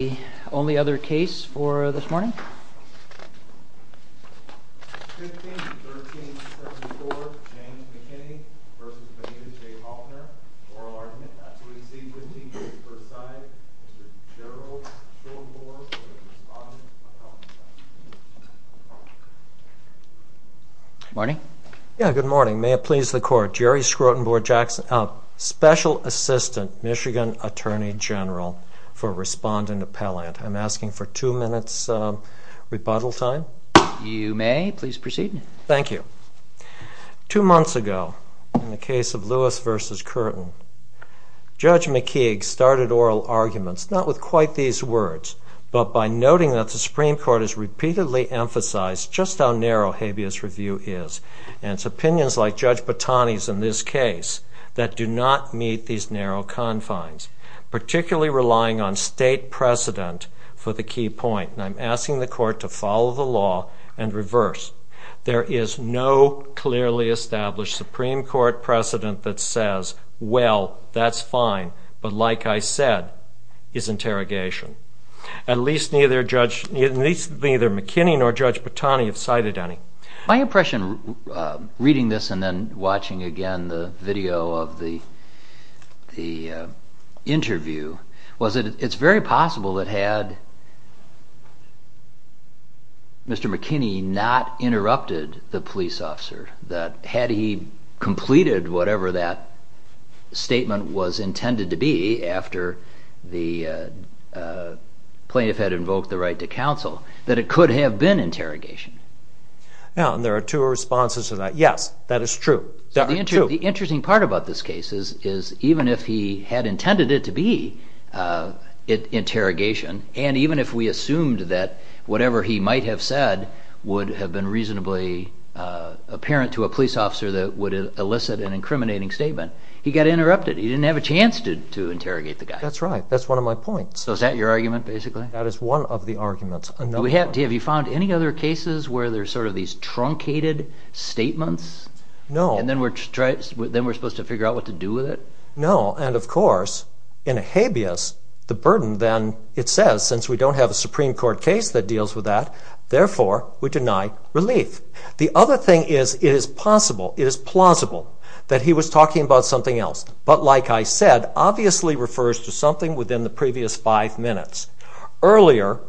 The only other case for this morning? 15-13-64 James McKinney v. Bonita J. Hoffner Oral argument. That's what we see. 15-15-4-5 Mr. Gerald Schrodenboer for the respondent appellate section. Morning. Yeah, good morning. May it please the court. Jerry Schrodenboer, Jackson. Special Assistant Michigan Attorney General for respondent appellate. I'm asking for two minutes rebuttal time. You may. Please proceed. Thank you. Two months ago, in the case of Lewis v. Curtin, Judge McKeague started oral arguments not with quite these words, but by noting that the Supreme Court has repeatedly emphasized just how narrow habeas review is, and it's opinions like Judge Botani's in this case that do not meet these narrow confines, particularly relying on state precedent for the key point. And I'm asking the court to follow the law and reverse. There is no clearly established Supreme Court precedent that says, well, that's fine, but like I said, is interrogation. At least neither McKinney nor Judge Botani have cited any. My impression reading this and then watching again the video of the interview was that it's very possible that had Mr. McKinney not interrupted the police officer, that had he completed whatever that statement was intended to be after the plaintiff had invoked the right to counsel, that it could have been interrogation. There are two responses to that. Yes, that is true. The interesting part about this case is even if he had intended it to be interrogation and even if we assumed that whatever he might have said would have been reasonably apparent to a police officer that would elicit an incriminating statement, he got interrupted. He didn't have a chance to interrogate the guy. That's right. That's one of my points. So is that your argument, basically? That is one of the arguments. Have you found any other cases where there's sort of these truncated statements? No. And then we're supposed to figure out what to do with it? No, and of course, in a habeas, the burden then, it says, since we don't have a Supreme Court case that deals with that, therefore, we deny relief. The other thing is, it is possible, it is plausible, that he was talking about something else, but like I said, obviously refers to something within the previous five minutes. Earlier,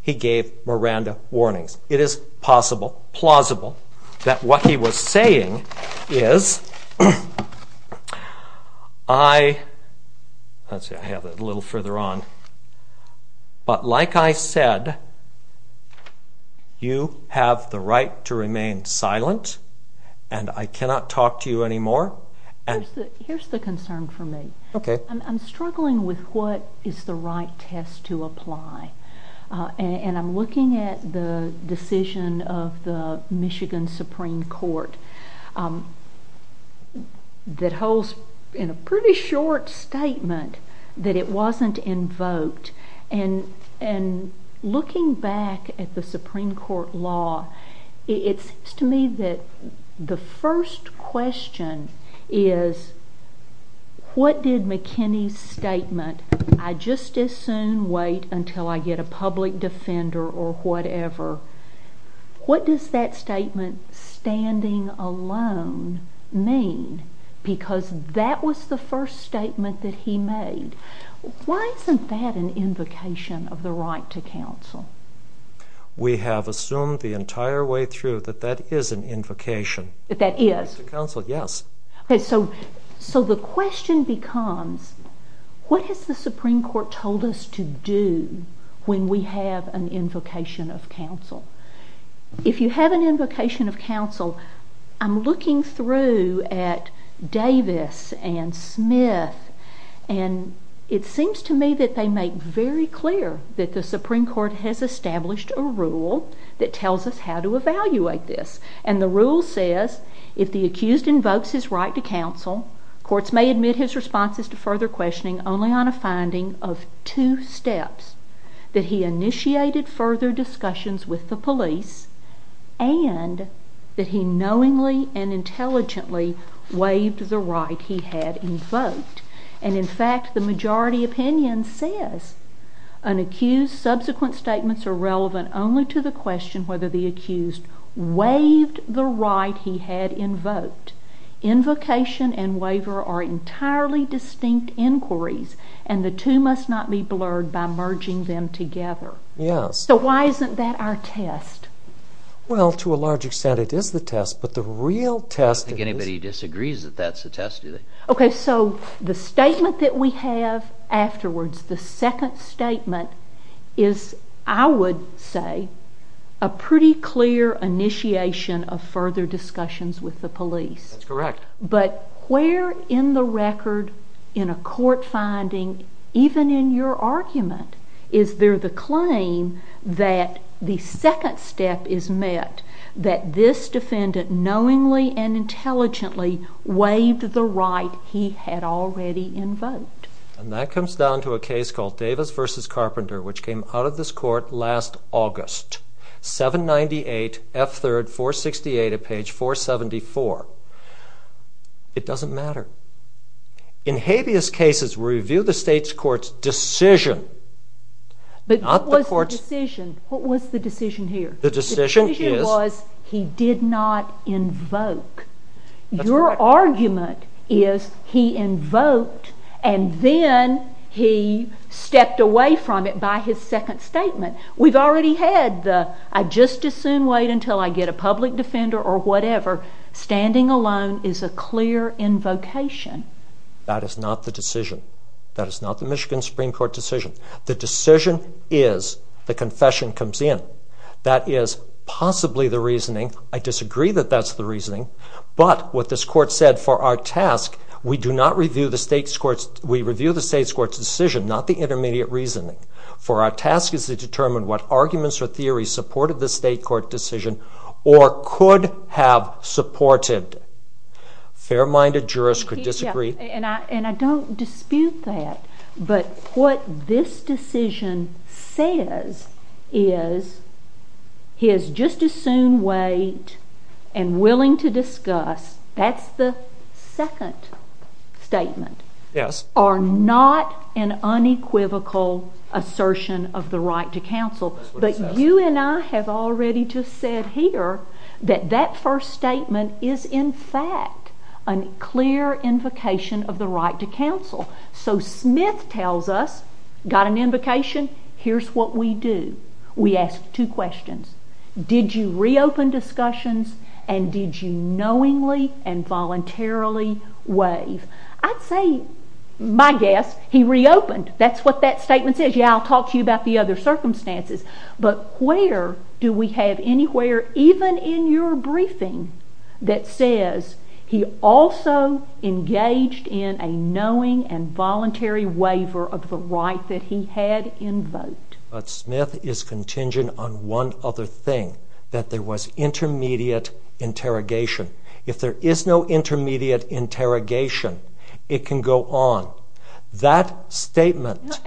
he gave Miranda warnings. It is possible, plausible, that what he was saying is, I have it a little further on, but like I said, you have the right to remain silent and I cannot talk to you anymore. Here's the concern for me. Okay. I'm struggling with what is the right test to apply. And I'm looking at the decision of the Michigan Supreme Court that holds, in a pretty short statement, that it wasn't invoked. And looking back at the Supreme Court law, it seems to me that the first question is, what did McKinney's statement, I just as soon wait until I get a public defender or whatever, what does that statement, standing alone, mean? Because that was the first statement that he made. Why isn't that an invocation of the right to counsel? We have assumed the entire way through that that is an invocation. That that is? Yes. So the question becomes, what has the Supreme Court told us to do when we have an invocation of counsel? If you have an invocation of counsel, I'm looking through at Davis and Smith, and it seems to me that they make very clear that the Supreme Court has established a rule that tells us how to evaluate this. And the rule says, if the accused invokes his right to counsel, courts may admit his responses to further questioning only on a finding of two steps, that he initiated further discussions with the police and that he knowingly and intelligently waived the right he had invoked. And in fact, the majority opinion says, an accused's subsequent statements are relevant only to the question whether the accused waived the right he had invoked. Invocation and waiver are entirely distinct inquiries, and the two must not be blurred by merging them together. Yes. So why isn't that our test? Well, to a large extent, it is the test. But the real test is... I don't think anybody disagrees that that's the test, do they? Okay, so the statement that we have afterwards, the second statement is, I would say, a pretty clear initiation of further discussions with the police. That's correct. But where in the record in a court finding, even in your argument, is there the claim that the second step is met, that this defendant knowingly and intelligently waived the right he had already invoked? And that comes down to a case called Davis v. Carpenter, which came out of this court last August, 798 F. 3rd 468 at page 474. It doesn't matter. In habeas cases, we review the state's court's decision, not the court's... But what was the decision? What was the decision here? The decision is... The decision was he did not invoke. That's correct. Your argument is he invoked and then he stepped away from it by his second statement. We've already had the, I just as soon wait until I get a public defender or whatever. Standing alone is a clear invocation. That is not the decision. That is not the Michigan Supreme Court decision. The decision is the confession comes in. That is possibly the reasoning. I disagree that that's the reasoning. But what this court said for our task, we do not review the state's court's, we review the state's court's decision, not the intermediate reasoning. For our task is to determine what arguments or theories supported the state court decision or could have supported. Fair-minded jurists could disagree. And I don't dispute that. But what this decision says is he is just as soon wait and willing to discuss, that's the second statement, are not an unequivocal assertion of the right to counsel. But you and I have already just said here that that first statement is in fact a clear invocation of the right to counsel. So Smith tells us, got an invocation, here's what we do. We ask two questions. Did you reopen discussions and did you knowingly and voluntarily waive? I'd say, my guess, he reopened. That's what that statement says. Yeah, I'll talk to you about the other circumstances. But where do we have anywhere, even in your briefing, that says he also engaged in a knowing and voluntary waiver of the right that he had invoked? But Smith is contingent on one other thing, that there was intermediate interrogation. If there is no intermediate interrogation, it can go on. That statement...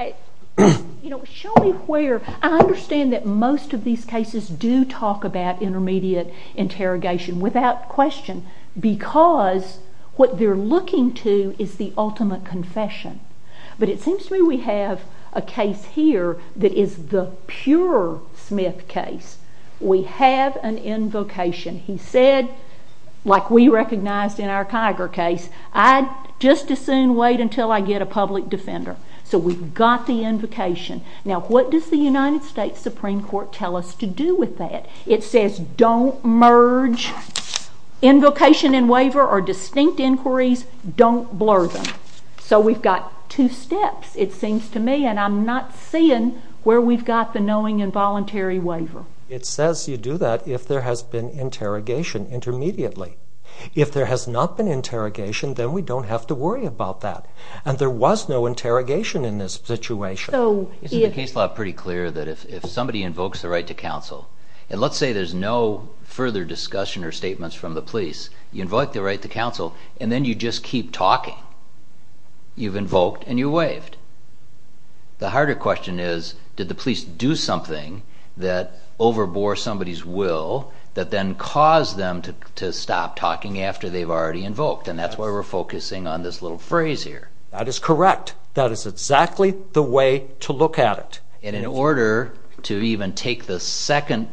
You know, show me where... I understand that most of these cases do talk about intermediate interrogation, without question, because what they're looking to is the ultimate confession. But it seems to me we have a case here that is the pure Smith case. We have an invocation. He said, like we recognized in our Kiger case, I'd just as soon wait until I get a public defender. So we've got the invocation. Now, what does the United States Supreme Court tell us to do with that? It says don't merge invocation and waiver or distinct inquiries, don't blur them. So we've got two steps, it seems to me, and I'm not seeing where we've got the knowing involuntary waiver. It says you do that if there has been interrogation, intermediately. If there has not been interrogation, then we don't have to worry about that. And there was no interrogation in this situation. Isn't the case law pretty clear that if somebody invokes the right to counsel, and let's say there's no further discussion or statements from the police, you invoke the right to counsel, and then you just keep talking? You've invoked and you waived. The harder question is, did the police do something that overbore somebody's will that then caused them to stop talking after they've already invoked? And that's why we're focusing on this little phrase here. That is correct. That is exactly the way to look at it. And in order to even take the second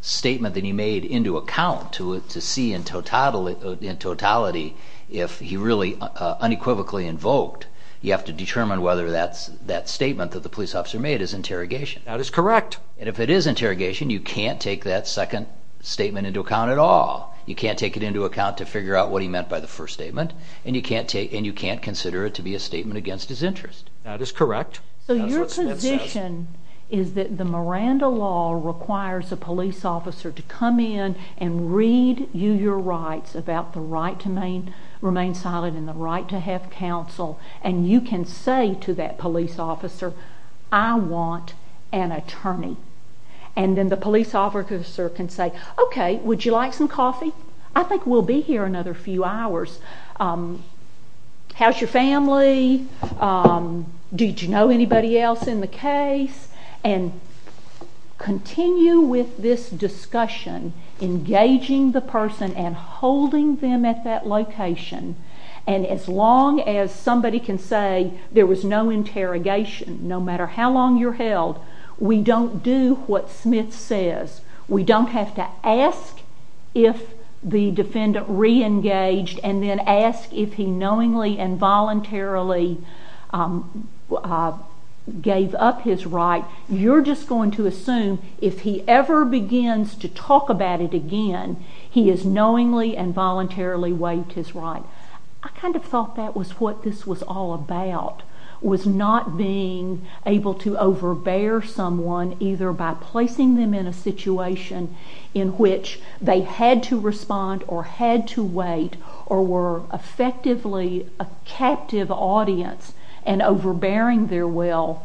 statement that he made into account to see in totality if he really unequivocally invoked, you have to determine whether that statement that the police officer made is interrogation. That is correct. And if it is interrogation, you can't take that second statement into account at all. You can't take it into account to figure out what he meant by the first statement, and you can't consider it to be a statement against his interest. That is correct. So your position is that the Miranda law requires a police officer to come in and read you your rights about the right to remain silent and the right to have counsel. And you can say to that police officer, I want an attorney. And then the police officer can say, OK, would you like some coffee? I think we'll be here another few hours. How's your family? Did you know anybody else in the case? And continue with this discussion engaging the person and holding them at that location. And as long as somebody can say there was no interrogation, no matter how long you're held, we don't do what Smith says. We don't have to ask if the defendant re-engaged and then ask if he knowingly and voluntarily gave up his right. You're just going to assume if he ever begins to talk about it again, he is knowingly and voluntarily waived his right. I kind of thought that was what this was all about, was not being able to overbear someone either by placing them in a situation in which they had to respond or had to wait or were effectively a captive audience and overbearing their will.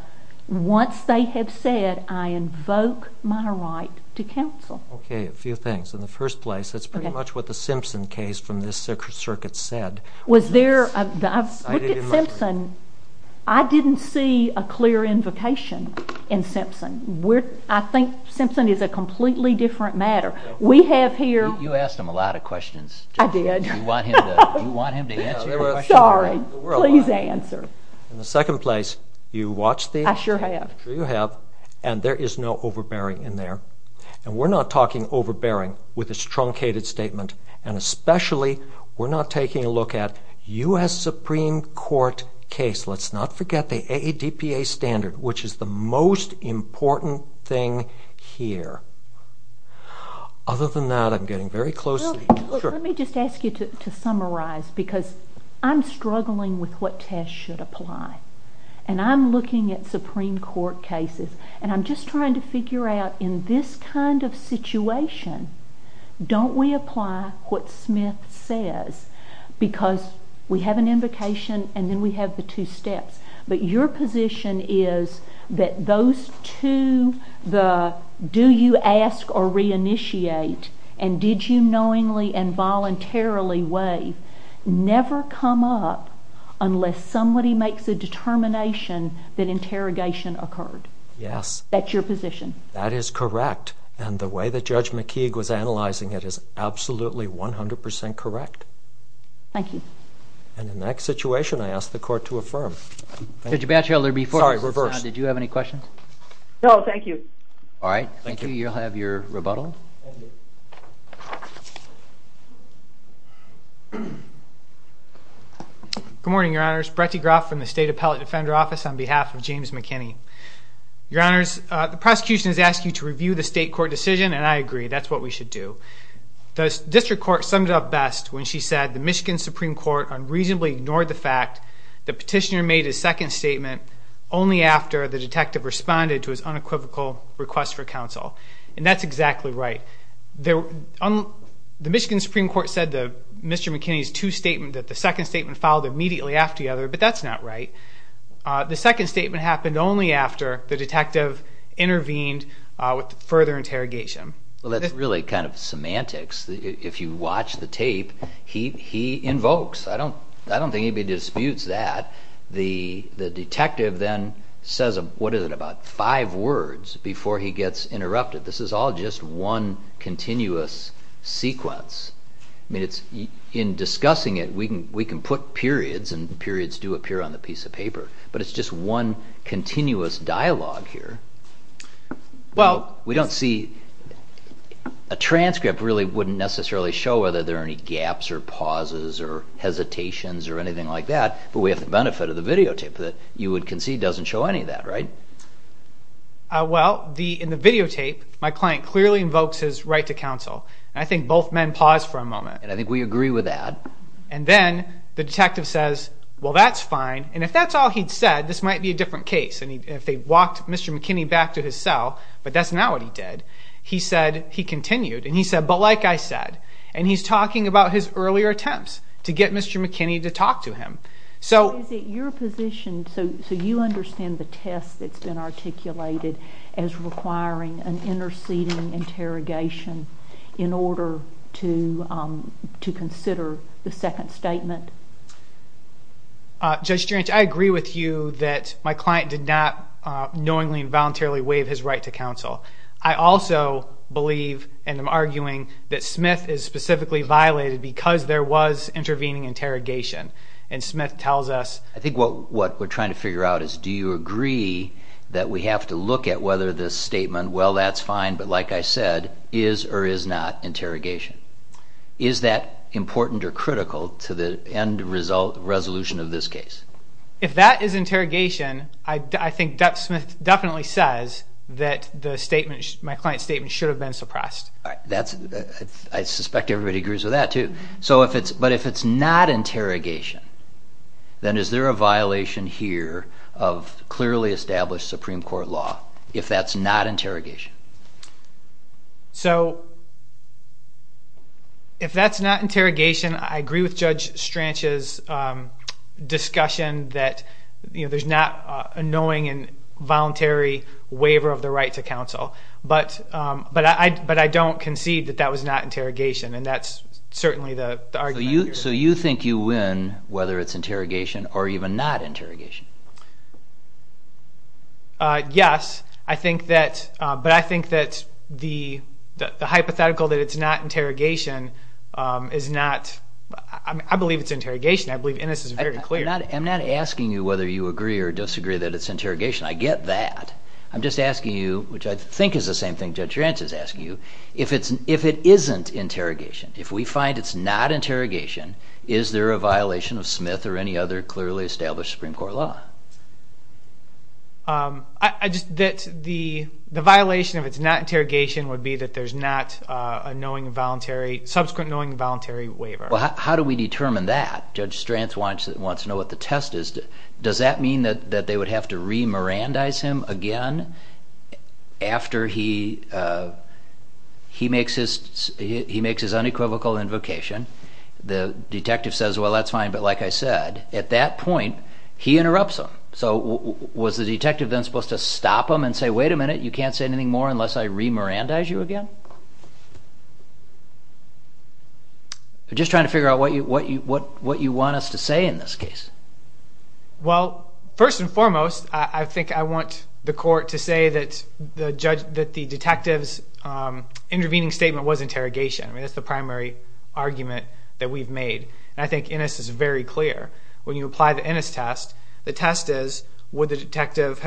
Once they have said, I invoke my right to counsel. Okay, a few things. In the first place, that's pretty much what the Simpson case from this circuit said. Was there... Look at Simpson. I didn't see a clear invocation in Simpson. I think Simpson is a completely different matter. We have here... You asked him a lot of questions. I did. Do you want him to answer your questions? Sorry, please answer. In the second place, you watched the... I sure have. Sure you have. And there is no overbearing in there. And we're not talking overbearing with a truncated statement. And especially, we're not taking a look at U.S. Supreme Court case. Let's not forget the AADPA standard, which is the most important thing here. Other than that, I'm getting very close... Let me just ask you to summarize because I'm struggling with what test should apply. And I'm looking at Supreme Court cases. And I'm just trying to figure out, in this kind of situation, don't we apply what Smith says? Because we have an invocation and then we have the two steps. But your position is that those two... Do you ask or reinitiate? And did you knowingly and voluntarily waive? Never come up unless somebody makes a determination that interrogation occurred. Yes. That's your position. That is correct. And the way that Judge McKeague was analyzing it is absolutely 100% correct. Thank you. And in that situation, I ask the court to affirm. Judge Batchelder, before... Sorry, reverse. Did you have any questions? No, thank you. All right. Thank you. You'll have your rebuttal. Thank you. Good morning, Your Honors. Brett DeGroff from the State Appellate Defender Office on behalf of James McKinney. Your Honors, the prosecution has asked you to review the state court decision, and I agree. That's what we should do. The district court summed it up best when she said the Michigan Supreme Court unreasonably ignored the fact the petitioner made his second statement only after the detective responded to his unequivocal request for counsel. And that's exactly right. The Michigan Supreme Court said to Mr. McKinney's two statements that the second statement followed immediately after the other, but that's not right. The second statement happened only after the detective intervened with further interrogation. Well, that's really kind of semantics. If you watch the tape, he invokes. I don't think anybody disputes that. The detective then says, what is it, about five words before he gets interrupted. This is all just one continuous sequence. In discussing it, we can put periods, and periods do appear on the piece of paper, but it's just one continuous dialogue here. Well, we don't see... A transcript really wouldn't necessarily show whether there are any gaps or pauses or hesitations or anything like that, but we have the benefit of the videotape that you would concede doesn't show any of that. Well, in the videotape, my client clearly invokes his right to counsel, and I think both men pause for a moment. And I think we agree with that. And then the detective says, well, that's fine. And if that's all he'd said, this might be a different case. And if they'd walked Mr. McKinney back to his cell, but that's not what he did, he continued, and he said, but like I said. And he's talking about his earlier attempts to get Mr. McKinney to talk to him. So is it your position, so you understand the test that's been articulated as requiring an interceding interrogation in order to consider the second statement? Judge Gerentz, I agree with you that my client did not knowingly and voluntarily waive his right to counsel. I also believe, and I'm arguing, that Smith is specifically violated because there was intervening interrogation. And Smith tells us... I think what we're trying to figure out is, do you agree that we have to look at whether this statement, well, that's fine, but like I said, is or is not interrogation. Is that important or critical to the end resolution of this case? If that is interrogation, I think Duck Smith definitely says that my client's statement should have been suppressed. I suspect everybody agrees with that, too. But if it's not interrogation, then is there a violation here of clearly established Supreme Court law if that's not interrogation? So, if that's not interrogation, I agree with Judge Strach's discussion that there's not a knowing and voluntary waiver of the right to counsel. But I don't concede that that was not interrogation, and that's certainly the argument I hear. So you think you win whether it's interrogation or even not interrogation? Yes, but I think that the hypothetical that it's not interrogation is not... I believe it's interrogation. I believe Ennis is very clear. I'm not asking you whether you agree or disagree that it's interrogation. I get that. I'm just asking you, which I think is the same thing Judge Ranch is asking you, if it isn't interrogation, if we find it's not interrogation, is there a violation of Smith or any other clearly established Supreme Court law? The violation if it's not interrogation would be that there's not a knowing and voluntary, subsequent knowing and voluntary waiver. Well, how do we determine that? Judge Strach wants to know what the test is. Does that mean that they would have to re-Mirandize him again after he makes his unequivocal invocation? The detective says, well, that's fine. But like I said, at that point, he interrupts him. So was the detective then supposed to stop him and say, wait a minute, you can't say anything more unless I re-Mirandize you again? Just trying to figure out what you want us to say in this case. Well, first and foremost, I think I want the court to say that the detective's intervening statement was interrogation. I mean, that's the primary argument that we've made. And I think Ennis is very clear. When you apply the Ennis test, the test is, would the detective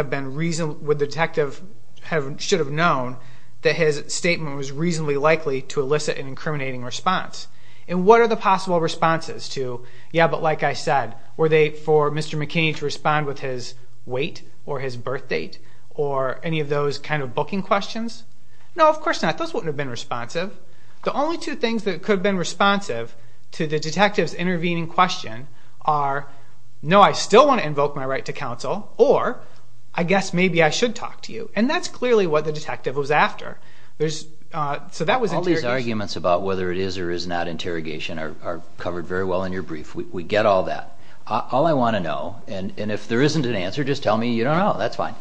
should have known that his statement was reasonably likely to elicit an incriminating response? And what are the possible responses to, yeah, but like I said, were they for Mr. McKinney to respond with his weight or his birth date or any of those kind of booking questions? No, of course not. Those wouldn't have been responsive. The only two things that could have been responsive to the detective's intervening question are, no, I still want to invoke my right to counsel, or I guess maybe I should talk to you. And that's clearly what the detective was after. So that was interrogation. All these arguments about whether it is or is not interrogation are covered very well in your brief. We get all that. All I want to know, and if there isn't an answer, just tell me you don't know. That's fine.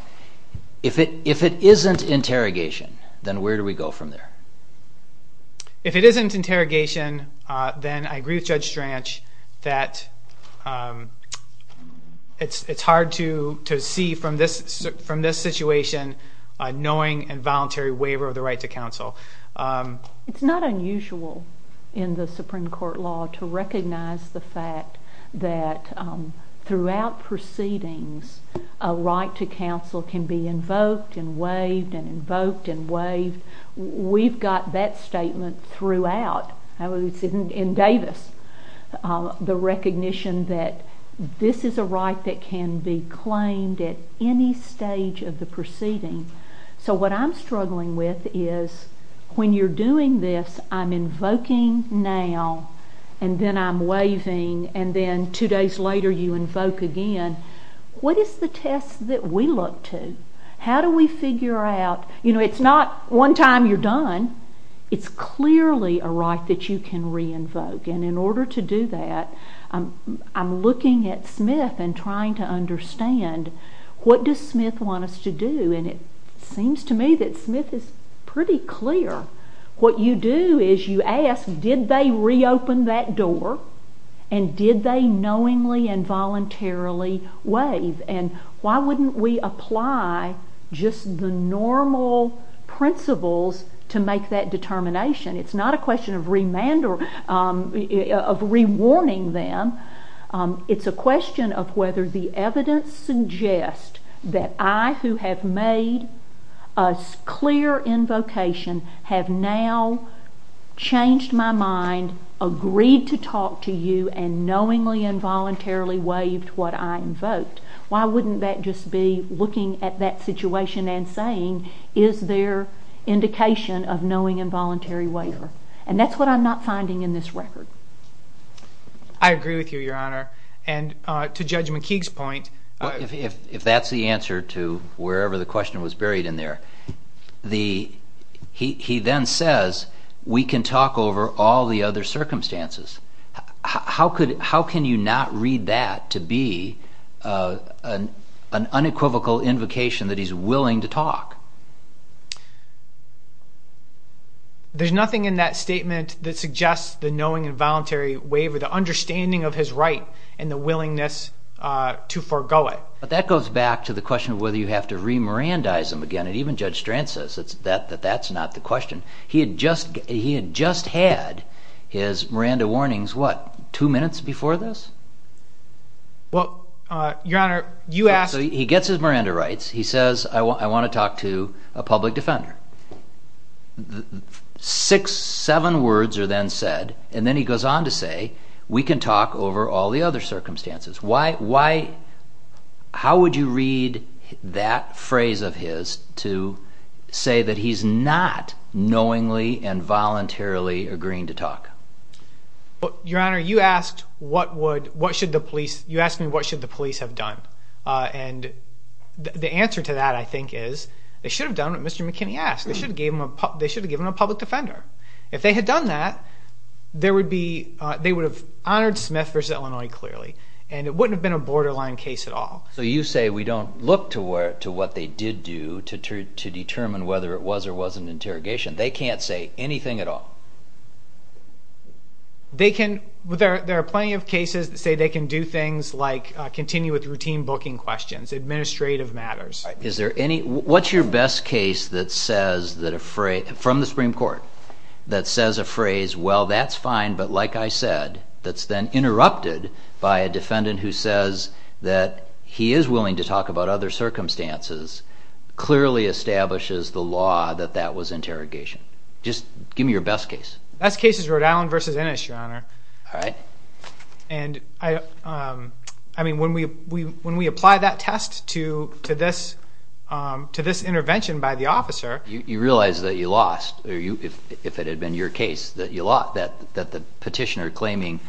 If it isn't interrogation, then where do we go from there? If it isn't interrogation, then I agree with Judge Strach that it's hard to see from this situation a knowing and voluntary waiver of the right to counsel. It's not unusual in the Supreme Court law to recognize the fact that throughout proceedings a right to counsel can be invoked and waived and invoked and waived. We've got that statement throughout. It's in Davis, the recognition that this is a right that can be claimed at any stage of the proceeding. So what I'm struggling with is when you're doing this, I'm invoking now, and then I'm waiving, and then two days later you invoke again, what is the test that we look to? How do we figure out? It's not one time you're done. It's clearly a right that you can re-invoke, and in order to do that, I'm looking at Smith and trying to understand what does Smith want us to do, and it seems to me that Smith is pretty clear. What you do is you ask, did they reopen that door, and did they knowingly and voluntarily waive, and why wouldn't we apply just the normal principles to make that determination? It's not a question of rewarning them. It's a question of whether the evidence suggests that I who have made a clear invocation have now changed my mind, agreed to talk to you, and knowingly and voluntarily waived what I invoked. Why wouldn't that just be looking at that situation and saying is there indication of knowing involuntary waiver? And that's what I'm not finding in this record. I agree with you, Your Honor, and to Judge McKeague's point... If that's the answer to wherever the question was buried in there, he then says we can talk over all the other circumstances. How can you not read that to be an unequivocal invocation that he's willing to talk? There's nothing in that statement that suggests the knowing involuntary waiver, the understanding of his right and the willingness to forgo it. That goes back to the question of whether you have to Mirandize him again, and even Judge Strand says that that's not the question. He had just had his Miranda warnings, what, two minutes before this? Well, Your Honor, you asked... He gets his Miranda rights. He says I want to talk to a public defender. Six, seven words are then said, and then he goes on to say we can talk over all the other circumstances. How would you read that phrase of his to say that he's not knowingly and voluntarily agreeing to talk? Your Honor, you asked what should the police have done, and the answer to that, I think, is they should have done what Mr. McKinney asked. They should have given him a public defender. If they had done that, they would have honored Smith v. Illinois clearly, and it wouldn't have been a borderline case at all. So you say we don't look to what they did do to determine whether it was or wasn't an interrogation. They can't say anything at all? They can... There are plenty of cases that say they can do things like continue with routine booking questions, administrative matters. Is there any... What's your best case that says that a phrase... from the Supreme Court that says a phrase, well, that's fine, but like I said, that's then interrupted by a defendant who says that he is willing to talk about other circumstances clearly establishes the law that that was interrogation? Just give me your best case. Best case is Rhode Island v. Innis, Your Honor. All right. And I mean, when we apply that test to this intervention by the officer... You realize that you lost, or if it had been your case, that you lost, that the petitioner claiming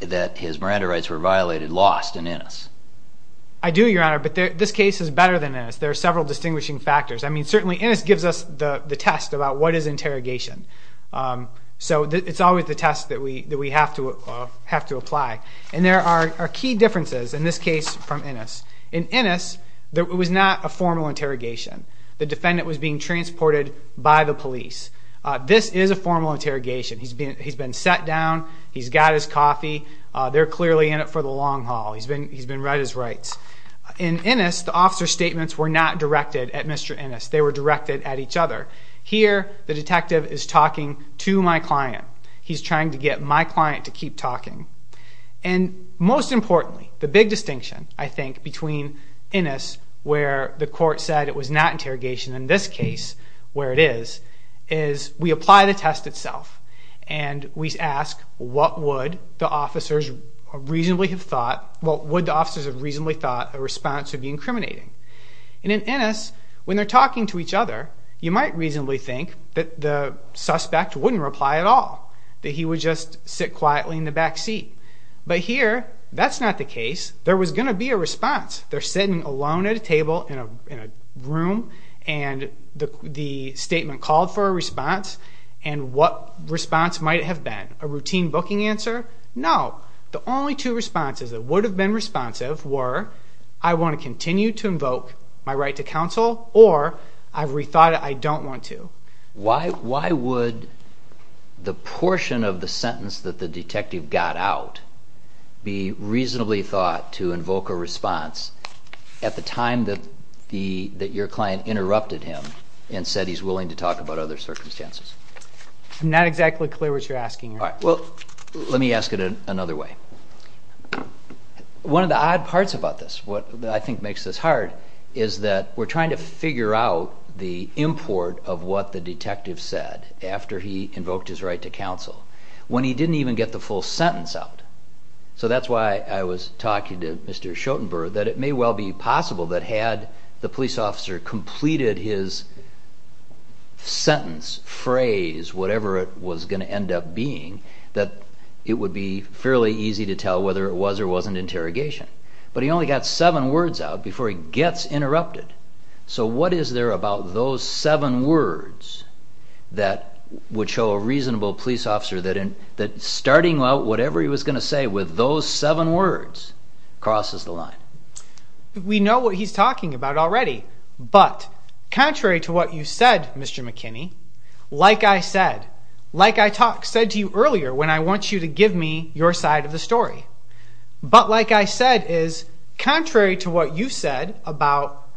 that his Miranda rights were violated lost in Innis? I do, Your Honor, but this case is better than Innis. There are several distinguishing factors. I mean, certainly Innis gives us the test about what is interrogation. So it's always the test that we have to apply. And there are key differences in this case from Innis. In Innis, it was not a formal interrogation. The defendant was being transported by the police. This is a formal interrogation. He's been sat down. He's got his coffee. They're clearly in it for the long haul. He's been read his rights. In Innis, the officer's statements were not directed at Mr. Innis. They were directed at each other. Here, the detective is talking to my client. He's trying to get my client to keep talking. And most importantly, the big distinction, I think, between Innis where the court said it was not interrogation and this case where it is, is we apply the test itself. And we ask what would the officers reasonably have thought a response would be incriminating. In Innis, when they're talking to each other, you might reasonably think that the suspect wouldn't reply at all, that he would just sit quietly in the back seat. But here, that's not the case. There was going to be a response. They're sitting alone at a table in a room, and the statement called for a response. And what response might it have been? A routine booking answer? No. The only two responses that would have been responsive were, I want to continue to invoke my right to counsel, or I've rethought it, I don't want to. Why would the portion of the sentence that the detective got out be reasonably thought to invoke a response at the time that your client interrupted him and said he's willing to talk about other circumstances? I'm not exactly clear what you're asking here. Well, let me ask it another way. One of the odd parts about this, what I think makes this hard, is that we're trying to figure out the import of what the detective said after he invoked his right to counsel. When he didn't even get the full sentence out. So that's why I was talking to Mr. Schotenberg, that it may well be possible that had the police officer completed his sentence, phrase, whatever it was going to end up being, that it would be fairly easy to tell whether it was or wasn't interrogation. But he only got seven words out before he gets interrupted. So what is there about those seven words that would show a reasonable police officer that starting out whatever he was going to say with those seven words crosses the line? We know what he's talking about already. But contrary to what you said, Mr. McKinney, like I said, like I said to you earlier when I want you to give me your side of the story, but like I said is contrary to what you said about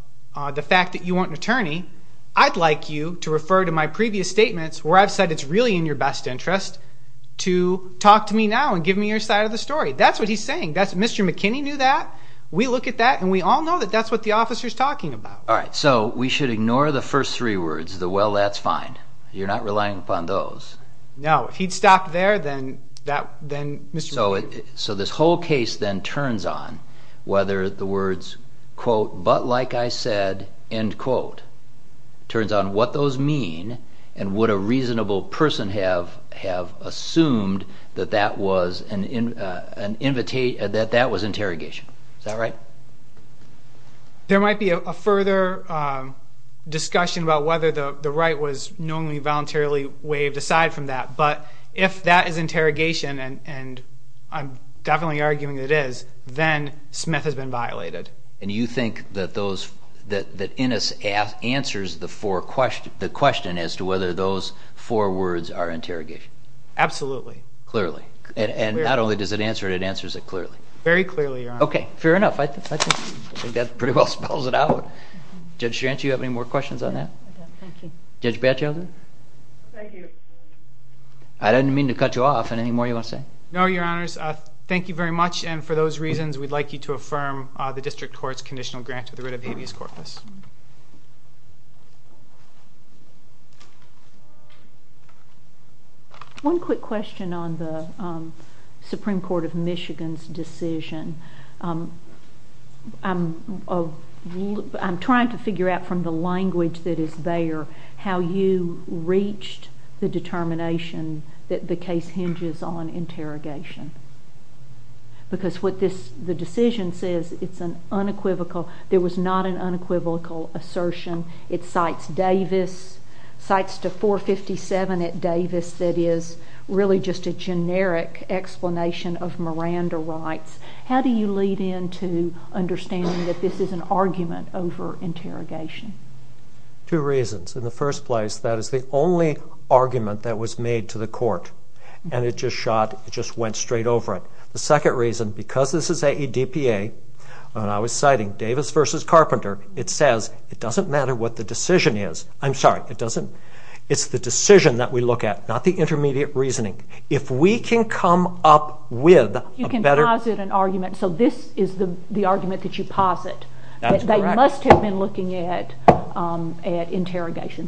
the fact that you want an attorney, I'd like you to refer to my previous statements where I've said it's really in your best interest to talk to me now and give me your side of the story. That's what he's saying. Mr. McKinney knew that. We look at that and we all know that's what the officer's talking about. So we should ignore the first three words, the well, that's fine. You're not relying upon those. No, if he'd stopped there, then Mr. McKinney... So this whole case then turns on whether the words quote, but like I said, end quote, turns on what those mean and would a reasonable person have assumed that that was interrogation. Is that right? There might be a further discussion about whether the right was knowingly voluntarily waived aside from that, but if that is interrogation and I'm definitely arguing that it is, then Smith has been violated. And you think that Innis answers the question as to whether those four words are interrogation? Absolutely. Clearly. And not only does it answer it, it answers it clearly. Very clearly, Your Honor. Okay, fair enough. I think that pretty well spells it out. Judge Schrantz, do you have any more questions on that? Thank you. I didn't mean to cut you off. Any more you want to say? No, Your Honors. Thank you very much, and for those reasons we'd like you to affirm the district court's conditional grant to the writ of habeas corpus. One quick question on the Supreme Court of Michigan's decision. I'm trying to figure out from the language that is there how you reached the determination that the case hinges on interrogation. Because what the decision says it's an unequivocal, there was not an unequivocal assertion. It cites Davis, cites to 457 at Davis that is really just a generic explanation of Miranda rights. How do you lead into understanding that this is an argument over interrogation? Two reasons. In the first place, that is the only argument that was made to the court and it just shot, it just went straight over it. The second reason, because this is AEDPA and I was citing Davis versus Carpenter, it says it doesn't matter what the decision is, I'm sorry, it's the decision that we look at, not the intermediate reasoning. If we can come up with You can posit an argument, so this is the argument that you posit. They must have been looking at interrogation.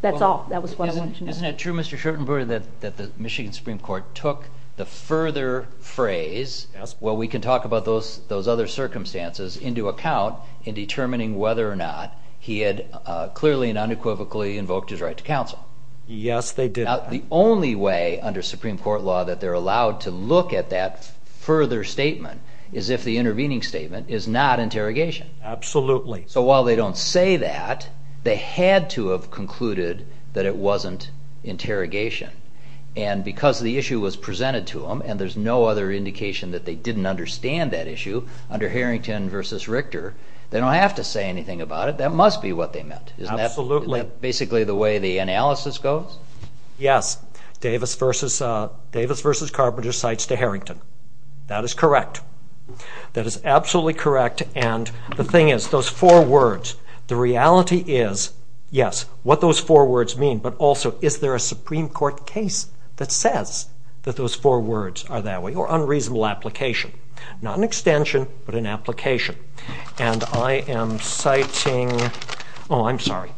That's all. Isn't it true Mr. Shurtenberg that the Michigan Supreme Court took the further phrase, well we can talk about those other circumstances into account in determining whether or not he had clearly and unequivocally invoked his right to counsel. Yes they did. Now the only way under Supreme Court law that they're allowed to look at that further statement is if the intervening statement is not interrogation. Absolutely. So while they don't say that they had to have concluded that it wasn't interrogation and because the issue was presented to them and there's no other indication that they didn't understand that issue under Harrington versus Richter, they don't have to say anything about it, that must be what they meant. Absolutely. Isn't that basically the way the analysis goes? Yes. Davis versus Carpenter cites to Harrington. That is correct. That is absolutely correct and the thing is those four words, the reality is yes, what those four words mean but also is there a Supreme Court case that says that those four words are that way or unreasonable application. Not an extension but an application. And I am citing, oh I'm sorry,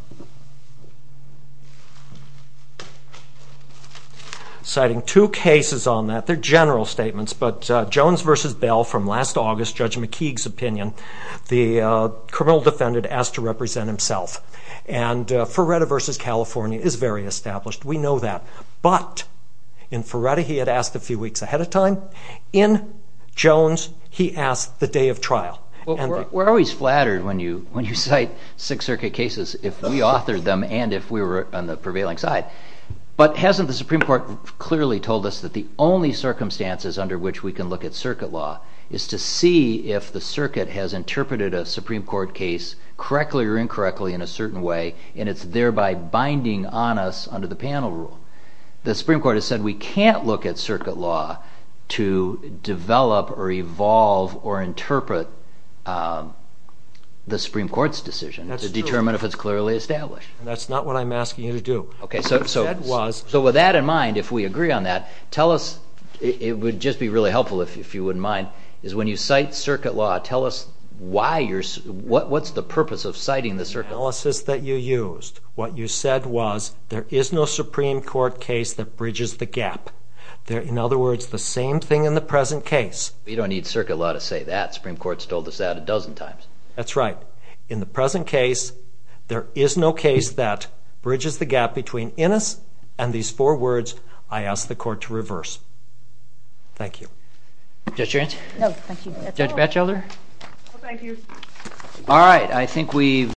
citing two cases on that, they're general statements but Jones versus Bell from last August, Judge McKeague's opinion, the criminal defendant asked to represent himself and Ferretta versus California is very established, we know that but in Ferretta he had asked a few weeks ahead of time, in Jones he asked the day of trial. We're always flattered when you cite Sixth Circuit cases if we authored them and if we were on the prevailing side. But hasn't the Supreme Court clearly told us that the only circumstances under which we can look at circuit law is to see if the circuit has interpreted a Supreme Court case correctly or incorrectly in a certain way and it's thereby binding on us under the panel rule. The Supreme Court has said we can't look at circuit law to develop or evolve or interpret the Supreme Court's decision to determine if it's clearly established. That's not what I'm asking you to do. So with that in mind, if we agree on that, tell us, it would just be really helpful if you wouldn't mind, is when you cite circuit law, tell us what's the purpose of citing the circuit law? The analysis that you used, what you said was there is no Supreme Court case that bridges the gap. In other words, the same thing in the present case. You don't need circuit law to say that, the Supreme Court has told us that a dozen times. That's right. In the present case, there is no case that bridges the gap between Innis and these four words I ask the Court to reverse. Thank you.